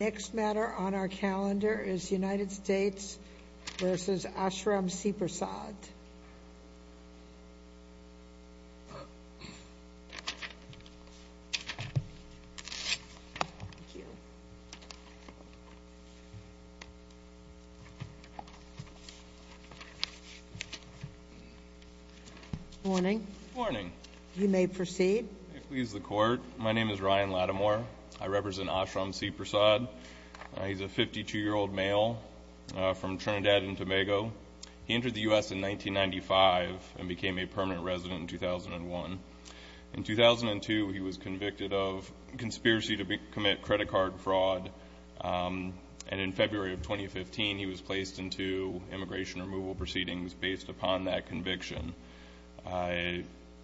Next matter on our calendar is United States v. Ashram Siprasad. Morning. Morning. You may proceed. Please the court. My name is Ryan Lattimore. I represent Ashram Siprasad. He's a 52-year-old male from Trinidad and Tobago. He entered the U.S. in 1995 and became a permanent resident in 2001. In 2002 he was convicted of conspiracy to commit credit card fraud and in February of 2015 he was placed into immigration removal proceedings based upon that conviction.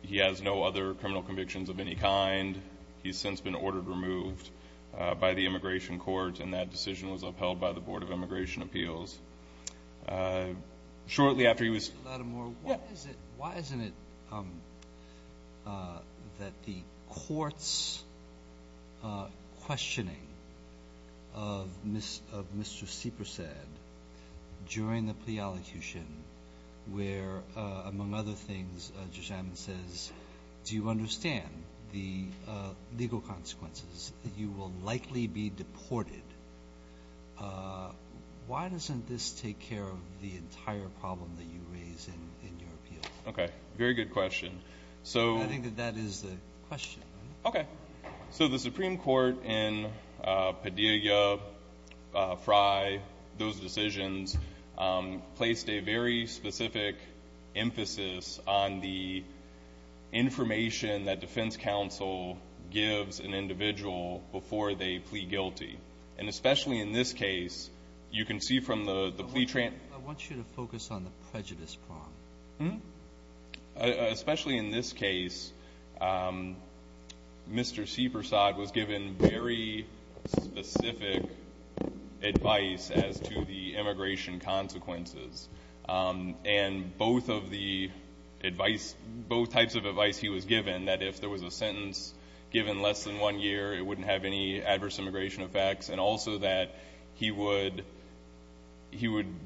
He has no other criminal convictions of any kind. He's since been ordered removed by the Immigration Court and that decision was upheld by the Board of Immigration Appeals. Shortly after he was... Why isn't it that the court's questioning of Mr. Siprasad during the plea allocution where among other things Judge Adman says, do you understand the legal consequences? You will likely be deported. Why doesn't this take care of the entire problem that you raise in your appeal? Okay, very good question. So I think that that is the question. Okay, so the Supreme Court in Padilla, Frye, those decisions placed a very specific emphasis on the information that defense counsel gives an individual before they plea guilty. And especially in this case, you can see from the plea... I want you to focus on the prejudice part. Especially in this case, Mr. Siprasad was given very specific advice as to the immigration consequences. And both of the advice, both types of advice he was given, that if there was a sentence given less than one year, it wouldn't have any adverse immigration effects. And also that he would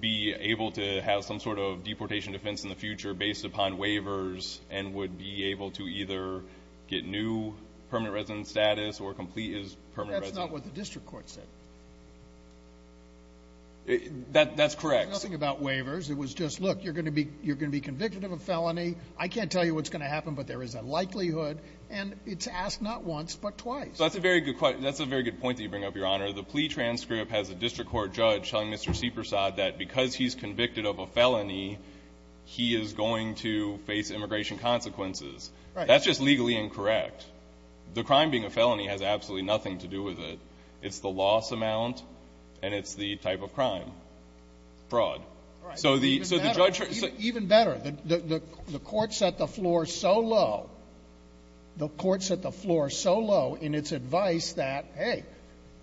be able to have some sort of deportation defense in the future based upon waivers and would be able to either get new permanent resident status or complete his permanent residence. That's not what the It was just, look, you're gonna be convicted of a felony. I can't tell you what's gonna happen, but there is a likelihood. And it's asked not once, but twice. That's a very good point that you bring up, Your Honor. The plea transcript has a district court judge telling Mr. Siprasad that because he's convicted of a felony, he is going to face immigration consequences. That's just legally incorrect. The crime being a felony has absolutely nothing to do with it. It's the loss amount and it's the type of crime. Fraud. All right. So the judge Even better, the court set the floor so low, the court set the floor so low in its advice that, hey,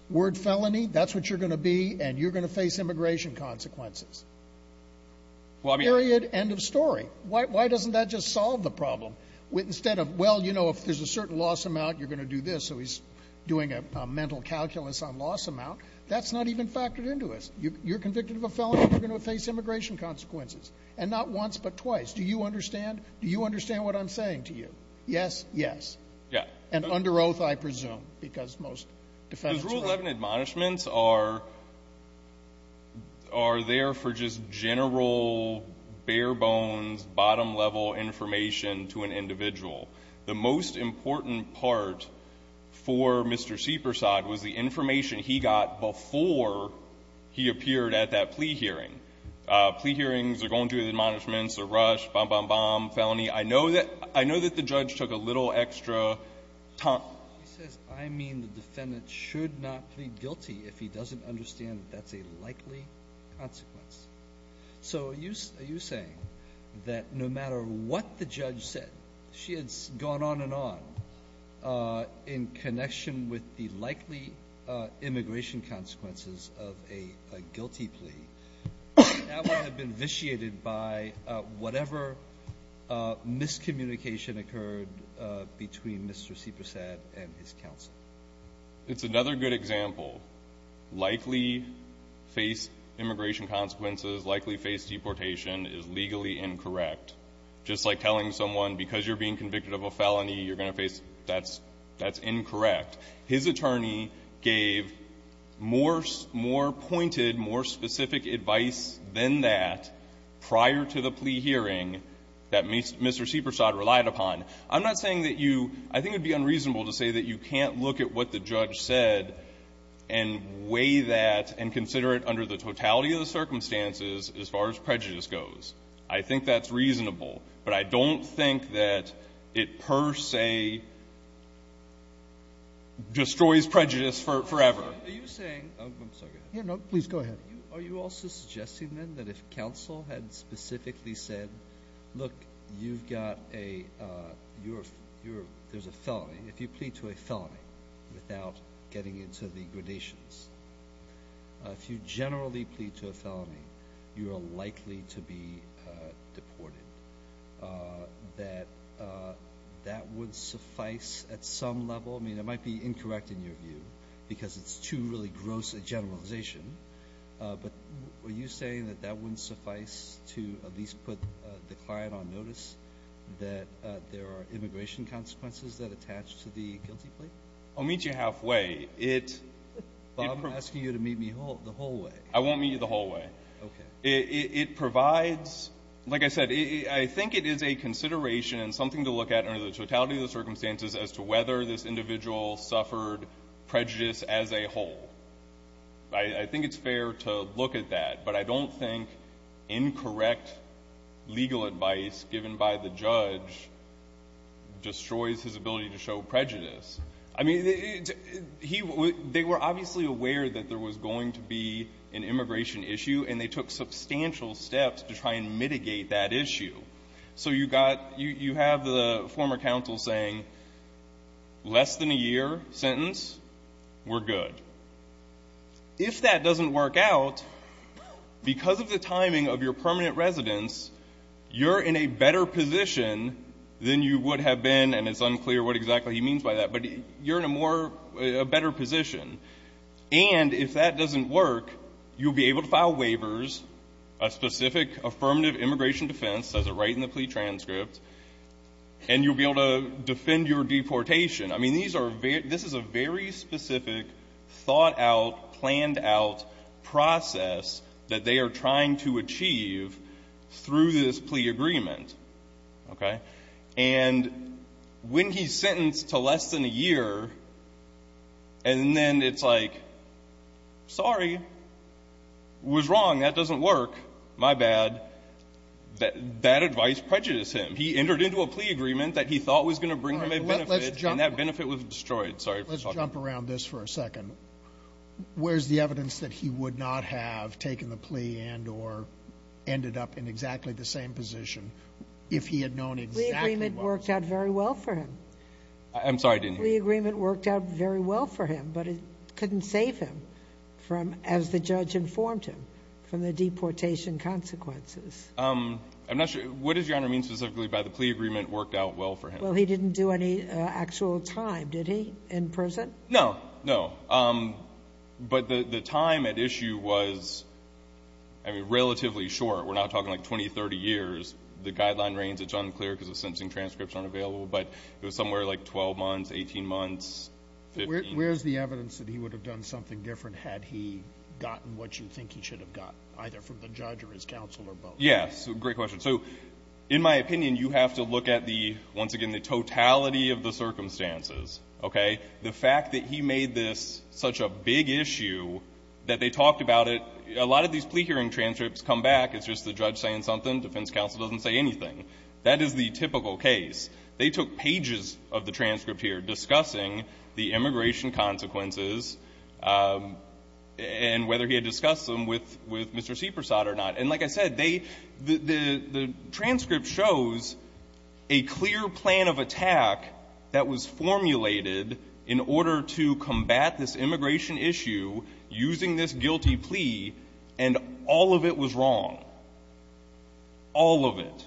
word felony, that's what you're gonna be and you're gonna face immigration consequences. Period. End of story. Why doesn't that just solve the problem? Instead of, well, you know, if there's a certain loss amount, you're this. So he's doing a mental calculus on loss amount. That's not even factored into us. You're convicted of a felony. You're gonna face immigration consequences and not once but twice. Do you understand? Do you understand what I'm saying to you? Yes. Yes. Yeah. And under oath, I presume, because most defense rule 11 admonishments are are there for just general bare bones, bottom level information to an important part for Mr Seepersod was the information he got before he appeared at that plea hearing. Plea hearings are going to the admonishments, a rush, bomb, bomb, bomb, felony. I know that I know that the judge took a little extra time. He says, I mean, the defendant should not plead guilty if he doesn't understand that's a likely consequence. So you are you saying that no matter what the judge said, she had gone on and on, uh, in connection with the likely immigration consequences of a guilty plea that would have been vitiated by whatever miscommunication occurred between Mr Seepersod and his counsel. It's another good example. Likely face immigration consequences. Likely face deportation is legally incorrect. Just like telling someone because you're being convicted of a felony, you're going to face. That's that's incorrect. His attorney gave more, more pointed, more specific advice than that prior to the plea hearing that meets Mr Seepersod relied upon. I'm not saying that you, I think it'd be unreasonable to say that you can't look at what the judge said and weigh that and consider it under the totality of the circumstances as far as prejudice goes. I think that's reasonable, but I don't think that it per se destroys prejudice forever. Are you saying, I'm sorry, go ahead. No, please go ahead. Are you also suggesting then that if counsel had specifically said, look, you've got a, you're, there's a felony, if you plead to a felony without getting into the allegations, if you generally plead to a felony, you are likely to be deported. That, that would suffice at some level. I mean, it might be incorrect in your view because it's too really gross a generalization. But were you saying that that wouldn't suffice to at least put the client on notice that there are immigration consequences that attach to the guilty plea? I'll meet you halfway. It, it provides you to meet me the whole way. I won't meet you the whole way. Okay. It, it provides, like I said, I think it is a consideration and something to look at under the totality of the circumstances as to whether this individual suffered prejudice as a whole. I, I think it's fair to look at that. But I don't think incorrect legal advice given by the judge destroys his ability to show prejudice. I mean, he, they were obviously aware that there was going to be an immigration issue and they took substantial steps to try and mitigate that issue. So you got, you, you have the former counsel saying, less than a year sentence, we're good. If that doesn't work out, because of the timing of your permanent residence, you're in a better position than you would have been, and it's unclear what exactly he means by that, but you're in a more, a better position. And if that doesn't work, you'll be able to file waivers, a specific affirmative immigration defense, says it right in the plea transcript, and you'll be able to defend your deportation. I mean, these are very, this is a very specific, thought out, planned out process that they are trying to achieve through this plea agreement. Okay? And when he's to less than a year, and then it's like, sorry, was wrong, that doesn't work. My bad. That, that advice prejudiced him. He entered into a plea agreement that he thought was going to bring him a benefit, and that benefit was destroyed. Sorry for talking. Let's jump around this for a second. Where's the evidence that he would not have taken the plea and, or ended up in exactly the same position if he had known exactly what was going to happen? The plea agreement worked out very well for him. I'm sorry, I didn't hear you. The plea agreement worked out very well for him, but it couldn't save him from, as the judge informed him, from the deportation consequences. I'm not sure, what does Your Honor mean specifically by the plea agreement worked out well for him? Well, he didn't do any actual time, did he, in prison? No, no. But the time at issue was, I mean, relatively short. We're not talking like 20, 30 years. The guideline reigns, it's unclear because the sentencing transcripts aren't available, but it was somewhere like 12 months, 18 months, 15. Where's the evidence that he would have done something different had he gotten what you think he should have gotten, either from the judge or his counsel or both? Yes. Great question. So in my opinion, you have to look at the, once again, the totality of the circumstances, okay? The fact that he made this such a big issue that they talked about it, a lot of these plea hearing transcripts come back, it's just the judge saying something, defense counsel doesn't say anything. That is the typical case. They took pages of the transcript here discussing the immigration consequences and whether he had discussed them with Mr. Seepersod or not. And like I said, they, the transcript shows a clear plan of attack that was formulated in order to combat this immigration issue using this guilty plea agreement. That was wrong. All of it.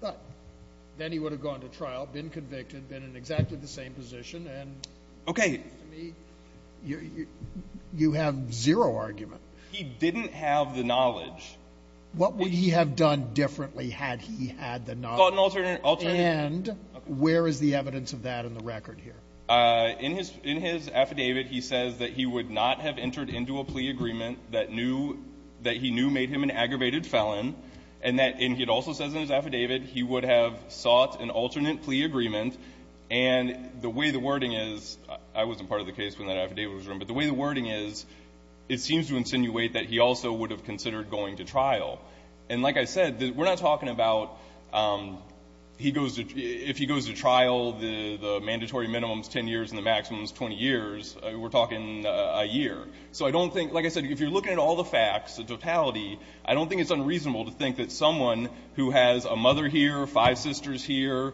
But then he would have gone to trial, been convicted, been in exactly the same position, and to me, you have zero argument. He didn't have the knowledge. What would he have done differently had he had the knowledge? And where is the evidence of that in the record here? In his affidavit, he says that he would not have entered into a plea agreement that knew, that he knew made him an aggravated felon, and that, and he also says in his affidavit, he would have sought an alternate plea agreement. And the way the wording is, I wasn't part of the case when that affidavit was written, but the way the wording is, it seems to insinuate that he also would have considered going to trial. And like I said, we're not talking about he goes to, if he goes to trial, the mandatory minimum's a year. So I don't think, like I said, if you're looking at all the facts, the totality, I don't think it's unreasonable to think that someone who has a mother here, five sisters here,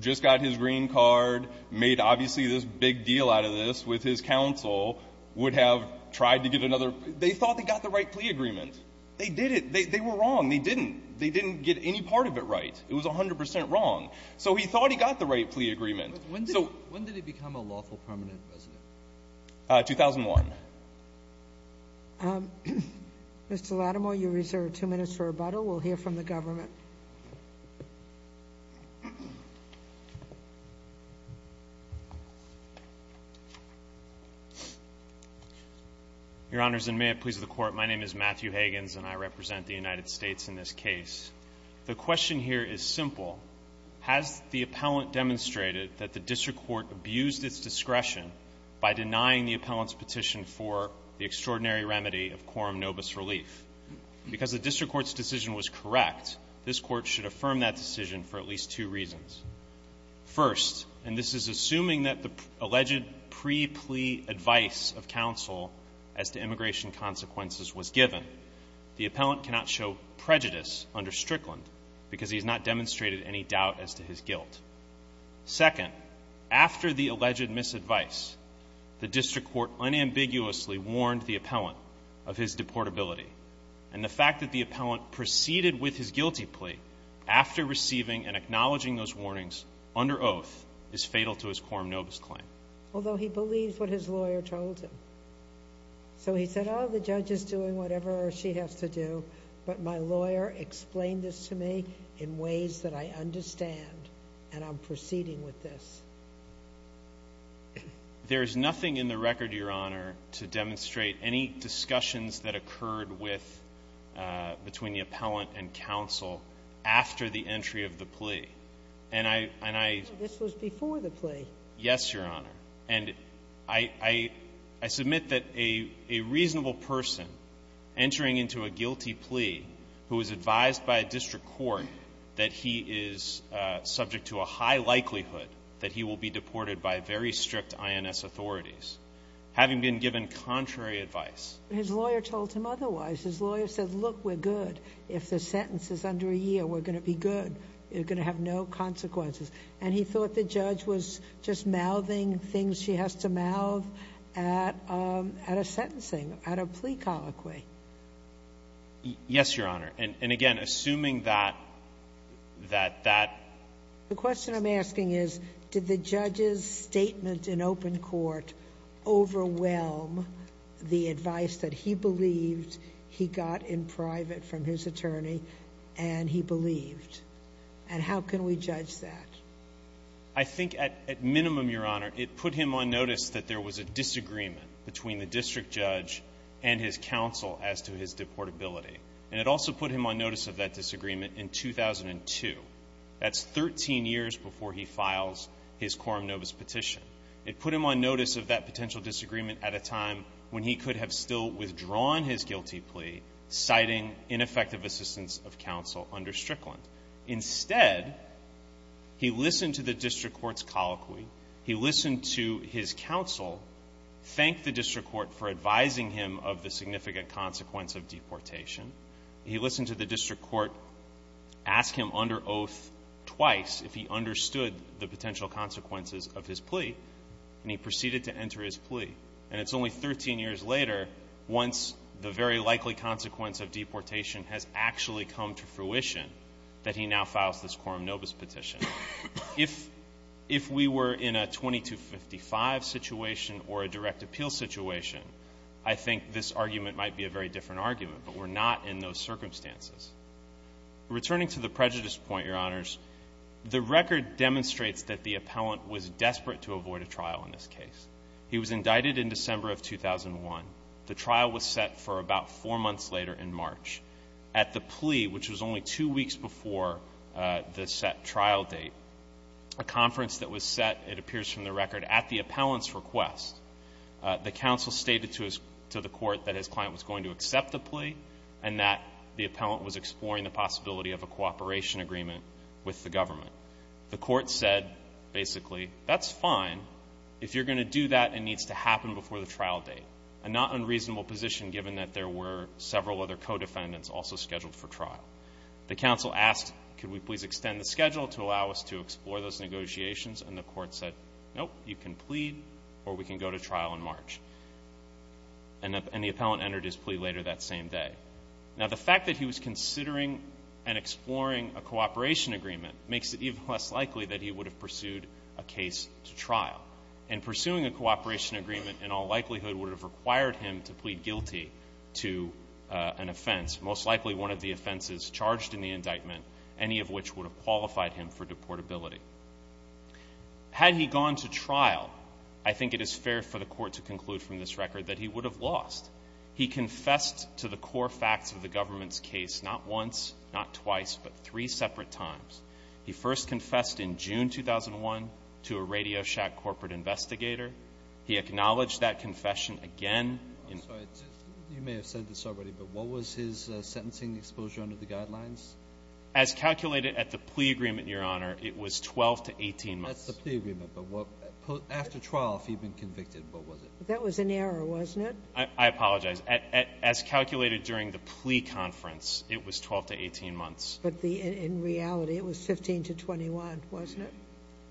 just got his green card, made obviously this big deal out of this with his counsel, would have tried to get another. They thought they got the right plea agreement. They did it. They were wrong. They didn't. They didn't get any part of it right. It was 100 percent wrong. So he thought he got the right plea agreement. So when did he become a lawful permanent resident? 2001. Mr. Latimer, you reserve two minutes for rebuttal. We'll hear from the government. Your Honors, and may it please the Court, my name is Matthew Hagans, and I represent the United States in this case. The question here is simple. Has the appellant demonstrated that the district court abused its discretion by denying the appellant's petition for the extraordinary remedy of quorum nobis relief? Because the district court's decision was correct, this Court should affirm that decision for at least two reasons. First, and this is assuming that the alleged pre-plea advice of counsel as to immigration consequences was given, the appellant cannot show prejudice under Strickland because he has not demonstrated any doubt as to his guilt. Second, after the alleged misadvice, the district court unambiguously warned the appellant of his deportability. And the fact that the appellant proceeded with his guilty plea after receiving and acknowledging those warnings under oath is fatal to his quorum nobis claim. Although he believes what his lawyer told him. So he said, oh, the judge is doing whatever she has to do, but my lawyer explained this to me in ways that I understand, and I'm proceeding with this. There's nothing in the record, Your Honor, to demonstrate any discussions that occurred with, between the appellant and counsel after the entry of the plea. And I, and I... This was before the plea. Yes, Your Honor. And I, I, I submit that a, a reasonable person entering into a guilty plea who was advised by a district court that he is subject to a high likelihood that he will be deported by very strict INS authorities, having been given contrary advice. His lawyer told him otherwise. His lawyer said, look, we're good. If the sentence is under a year, we're going to be good. You're going to have no consequences. And he thought the judge was just mouthing things she has to mouth at, at a sentencing, at a plea colloquy. Yes, Your Honor. And, and again, assuming that, that, that... The question I'm asking is, did the judge's statement in open court overwhelm the advice that he believed he got in private from his attorney and he believed? And how can we judge that? I think at, at minimum, Your Honor, it put him on notice that there was a disagreement between the district judge and his counsel as to his deportability. And it also put him on notice of that disagreement in 2002. That's 13 years before he files his quorum novus petition. It put him on notice of that potential disagreement at a time when he could have still withdrawn his guilty plea, citing ineffective assistance of counsel under Strickland. Instead, he listened to the district court's colloquy. He listened to his counsel thank the district court for advising him of the significant consequence of deportation. He listened to the district court ask him under oath twice if he understood the potential consequences of his plea. And he proceeded to enter his plea. And it's only 13 years later, once the very likely consequence of deportation has actually come to fruition, that he now files this quorum novus petition. If, if we were in a 2255 situation or a direct appeal situation, I think this argument might be a very different argument, but we're not in those circumstances. Returning to the prejudice point, Your Honors, the record demonstrates that the appellant was desperate to avoid a trial in this case. He was indicted in December of 2001. The trial was set for about four months later in March. At the plea, which was only two weeks before the set trial date, a conference that was set, it appears from the record, at the appellant's request, the counsel stated to his, to the court that his client was going to accept the plea and that the appellant was exploring the possibility of a cooperation agreement with the government. The court said, basically, that's fine. If you're going to do that, it needs to happen before the trial date. A not unreasonable position, given that there were several other co-defendants also scheduled for trial. The counsel asked, could we please extend the schedule to allow us to explore those negotiations? And the court said, nope, you can plead or we can go to trial in March. And the appellant entered his plea later that same day. Now, the fact that he was considering and exploring a cooperation agreement makes it even less likely that he would have pursued a case to trial. And pursuing a cooperation agreement, in all likelihood, would have required him to plead guilty to an offense, most likely one of the offenses charged in the indictment, any of which would have qualified him for deportability. Had he gone to trial, I think it is fair for the court to conclude from this record that he would have lost. He confessed to the core facts of the government's case, not once, not twice, but three separate times. He first confessed in June 2001 to a Radio Shack corporate investigator. He acknowledged that confession again. I'm sorry. You may have said this already, but what was his sentencing exposure under the guidelines? As calculated at the plea agreement, Your Honor, it was 12 to 18 months. That's the plea agreement. But after trial, if he had been convicted, what was it? That was an error, wasn't it? I apologize. As calculated during the plea conference, it was 12 to 18 months. But in reality, it was 15 to 21, wasn't it?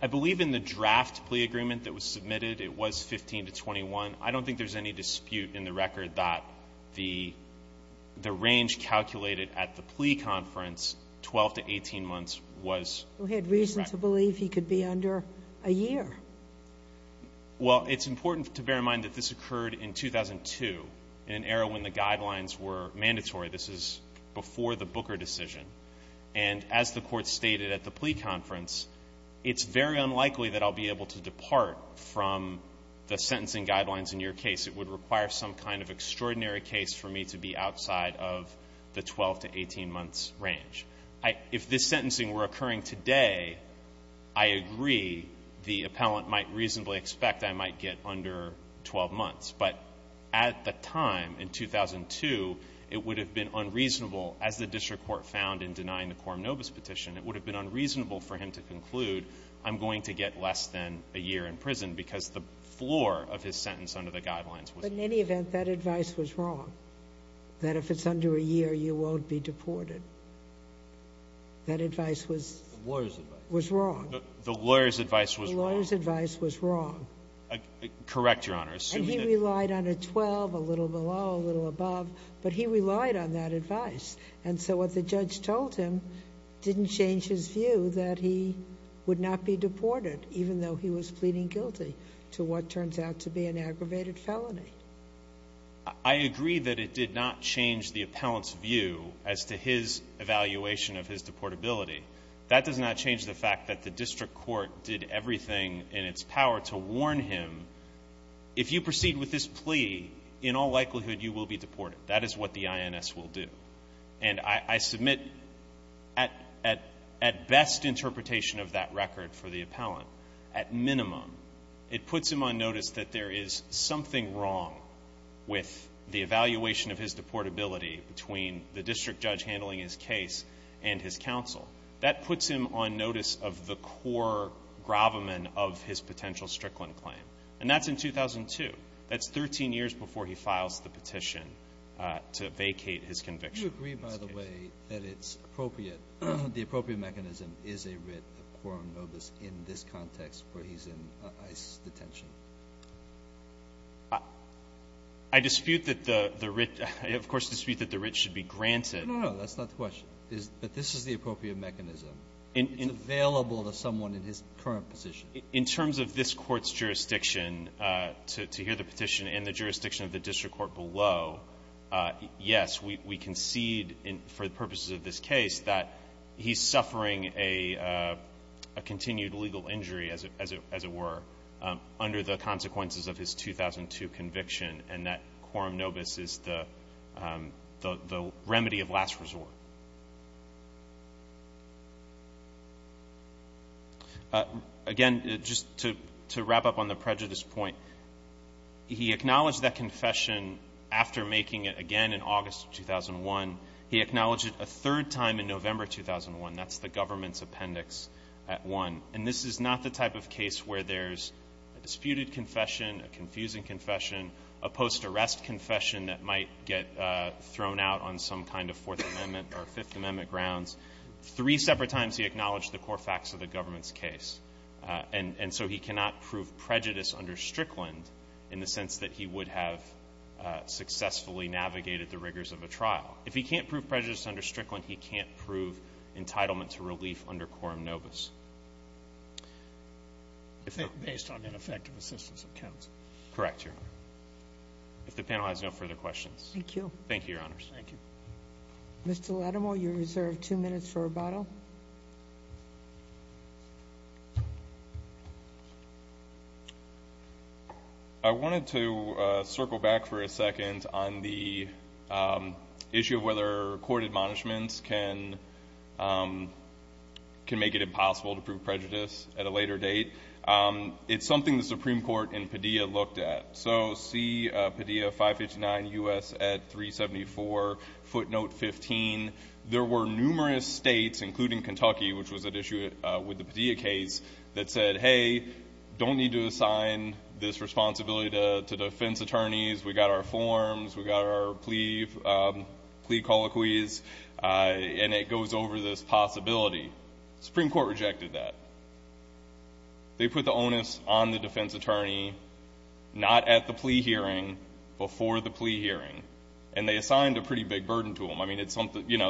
I believe in the draft plea agreement that was submitted, it was 15 to 21. I don't think there's any dispute in the record that the range calculated at the plea conference, 12 to 18 months, was correct. He had reason to believe he could be under a year. Well, it's important to bear in mind that this occurred in 2002, in an era when the guidelines were mandatory. This is before the Booker decision. And as the Court stated at the plea conference, it's very unlikely that I'll be able to depart from the sentencing guidelines in your case. It would require some kind of extraordinary case for me to be outside of the 12 to 18 months range. If this sentencing were occurring today, I agree the appellant might reasonably expect I might get under 12 months. But at the time, in 2002, it would have been unreasonable, as the district court found in denying the Quorum Novus petition, it would have been unreasonable for him to conclude, I'm going to get less than a year in prison because the floor of his sentence under the guidelines was— But in any event, that advice was wrong. That if it's under a year, you won't be deported. That advice was— The lawyer's advice. —was wrong. The lawyer's advice was wrong. The lawyer's advice was wrong. Correct, Your Honor. Assuming that— And he relied on a 12, a little below, a little above. But he relied on that advice. And so what the judge told him didn't change his view that he would not be deported, even though he was pleading guilty to what turns out to be an aggravated felony. I agree that it did not change the appellant's view as to his evaluation of his deportability. That does not change the fact that the district court did everything in its power to warn him, if you proceed with this plea, in all likelihood, you will be deported. That is what the INS will do. And I submit at best interpretation of that record for the appellant, at minimum, it puts him on notice that there is something wrong with the evaluation of his deportability between the district judge handling his case and his counsel. That puts him on notice of the core gravamen of his potential Strickland claim. And that's in 2002. That's 13 years before he files the petition to vacate his conviction. Do you agree, by the way, that it's appropriate, the appropriate mechanism is a writ of quorum notice in this context where he's in ICE detention? I dispute that the writ, of course, dispute that the writ should be granted. No, no, no. That's not the question. But this is the appropriate mechanism. It's available to someone in his current position. In terms of this Court's jurisdiction, to hear the petition and the jurisdiction of the district court below, yes, we concede, for the purposes of this case, that he's suffering a continued legal injury, as it were, under the consequences of his 2002 conviction, and that quorum notice is the remedy of last resort. Again, just to wrap up on the prejudice point, he acknowledged that confession after making it again in August of 2001. He acknowledged it a third time in November 2001. That's the government's appendix at one. And this is not the type of case where there's a disputed confession, a confusing confession, a post-arrest confession that might get thrown out on some kind of Fourth Amendment or Fifth Amendment grounds. Three separate times he acknowledged the core facts of the government's case. And so he cannot prove prejudice under Strickland in the sense that he would have successfully navigated the rigors of a trial. If he can't prove prejudice under Strickland, he can't prove entitlement to relief under quorum notice. MR. LIDEMANN Based on ineffective assistance of counsel. MR. ZUNIGA Correct, Your Honor. If the panel has no further questions. MRS. SOTOMAYOR Thank you. MR. LIDEMANN Thank you, Your Honors. MR. SOTOMAYOR Thank you. MRS. SOTOMAYOR Mr. Lidemann, you're reserved two minutes for rebuttal. MR. LIDEMANN I wanted to circle back for a second on the issue of whether court admonishments can make it impossible to prove prejudice at a later date. It's something the Supreme Court in Padilla looked at. So see Padilla 559 U.S. at 374, footnote 15. There were numerous states, including Kentucky, which was at issue with the Padilla case, that said, hey, don't need to assign this responsibility to defense attorneys. We got our forms. We got our plea colloquies. And it goes over this possibility. Supreme Court rejected that. They put the onus on the defense attorney, not at the plea hearing, before the plea hearing. And they assigned a pretty big burden to them.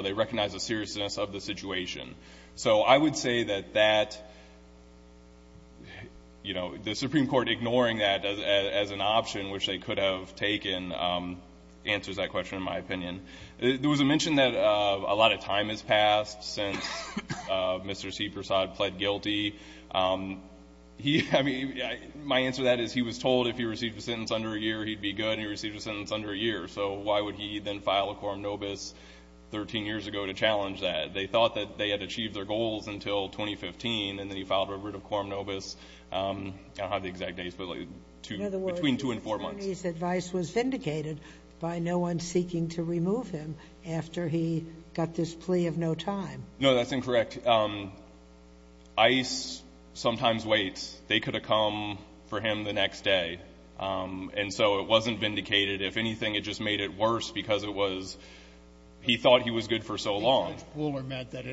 They recognized the seriousness of the situation. So I would say that the Supreme Court ignoring that as an option, which they could have taken, answers that question, in my opinion. There was a mention that a lot of time has passed since Mr. C. Persaud pled guilty. My answer to that is he was told if he received a sentence under a year, he'd be good. And he received a sentence under a year. So why would he then file a quorum nobis 13 years ago to challenge that? They thought that they had achieved their goals until 2015. And then he filed a writ of quorum nobis. I don't have the exact dates, but between two and four months. In other words, attorney's advice was vindicated by no one seeking to remove him after he got this plea of no time. No, that's incorrect. ICE sometimes waits. They could have come for him the next day. And so it wasn't vindicated. If anything, it just made it worse, because it was he thought he was good for so long. I think Judge Pooler meant that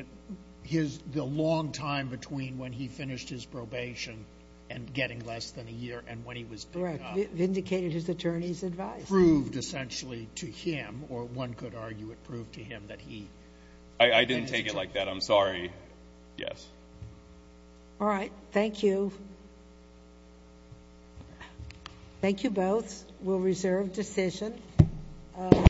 the long time between when he finished his probation and getting less than a year and when he was picked up. Correct. Vindicated his attorney's advice. Proved essentially to him, or one could argue it proved to him that he. I didn't take it like that. I'm sorry. Yes. All right. Thank you. Thank you both. We'll reserve decision.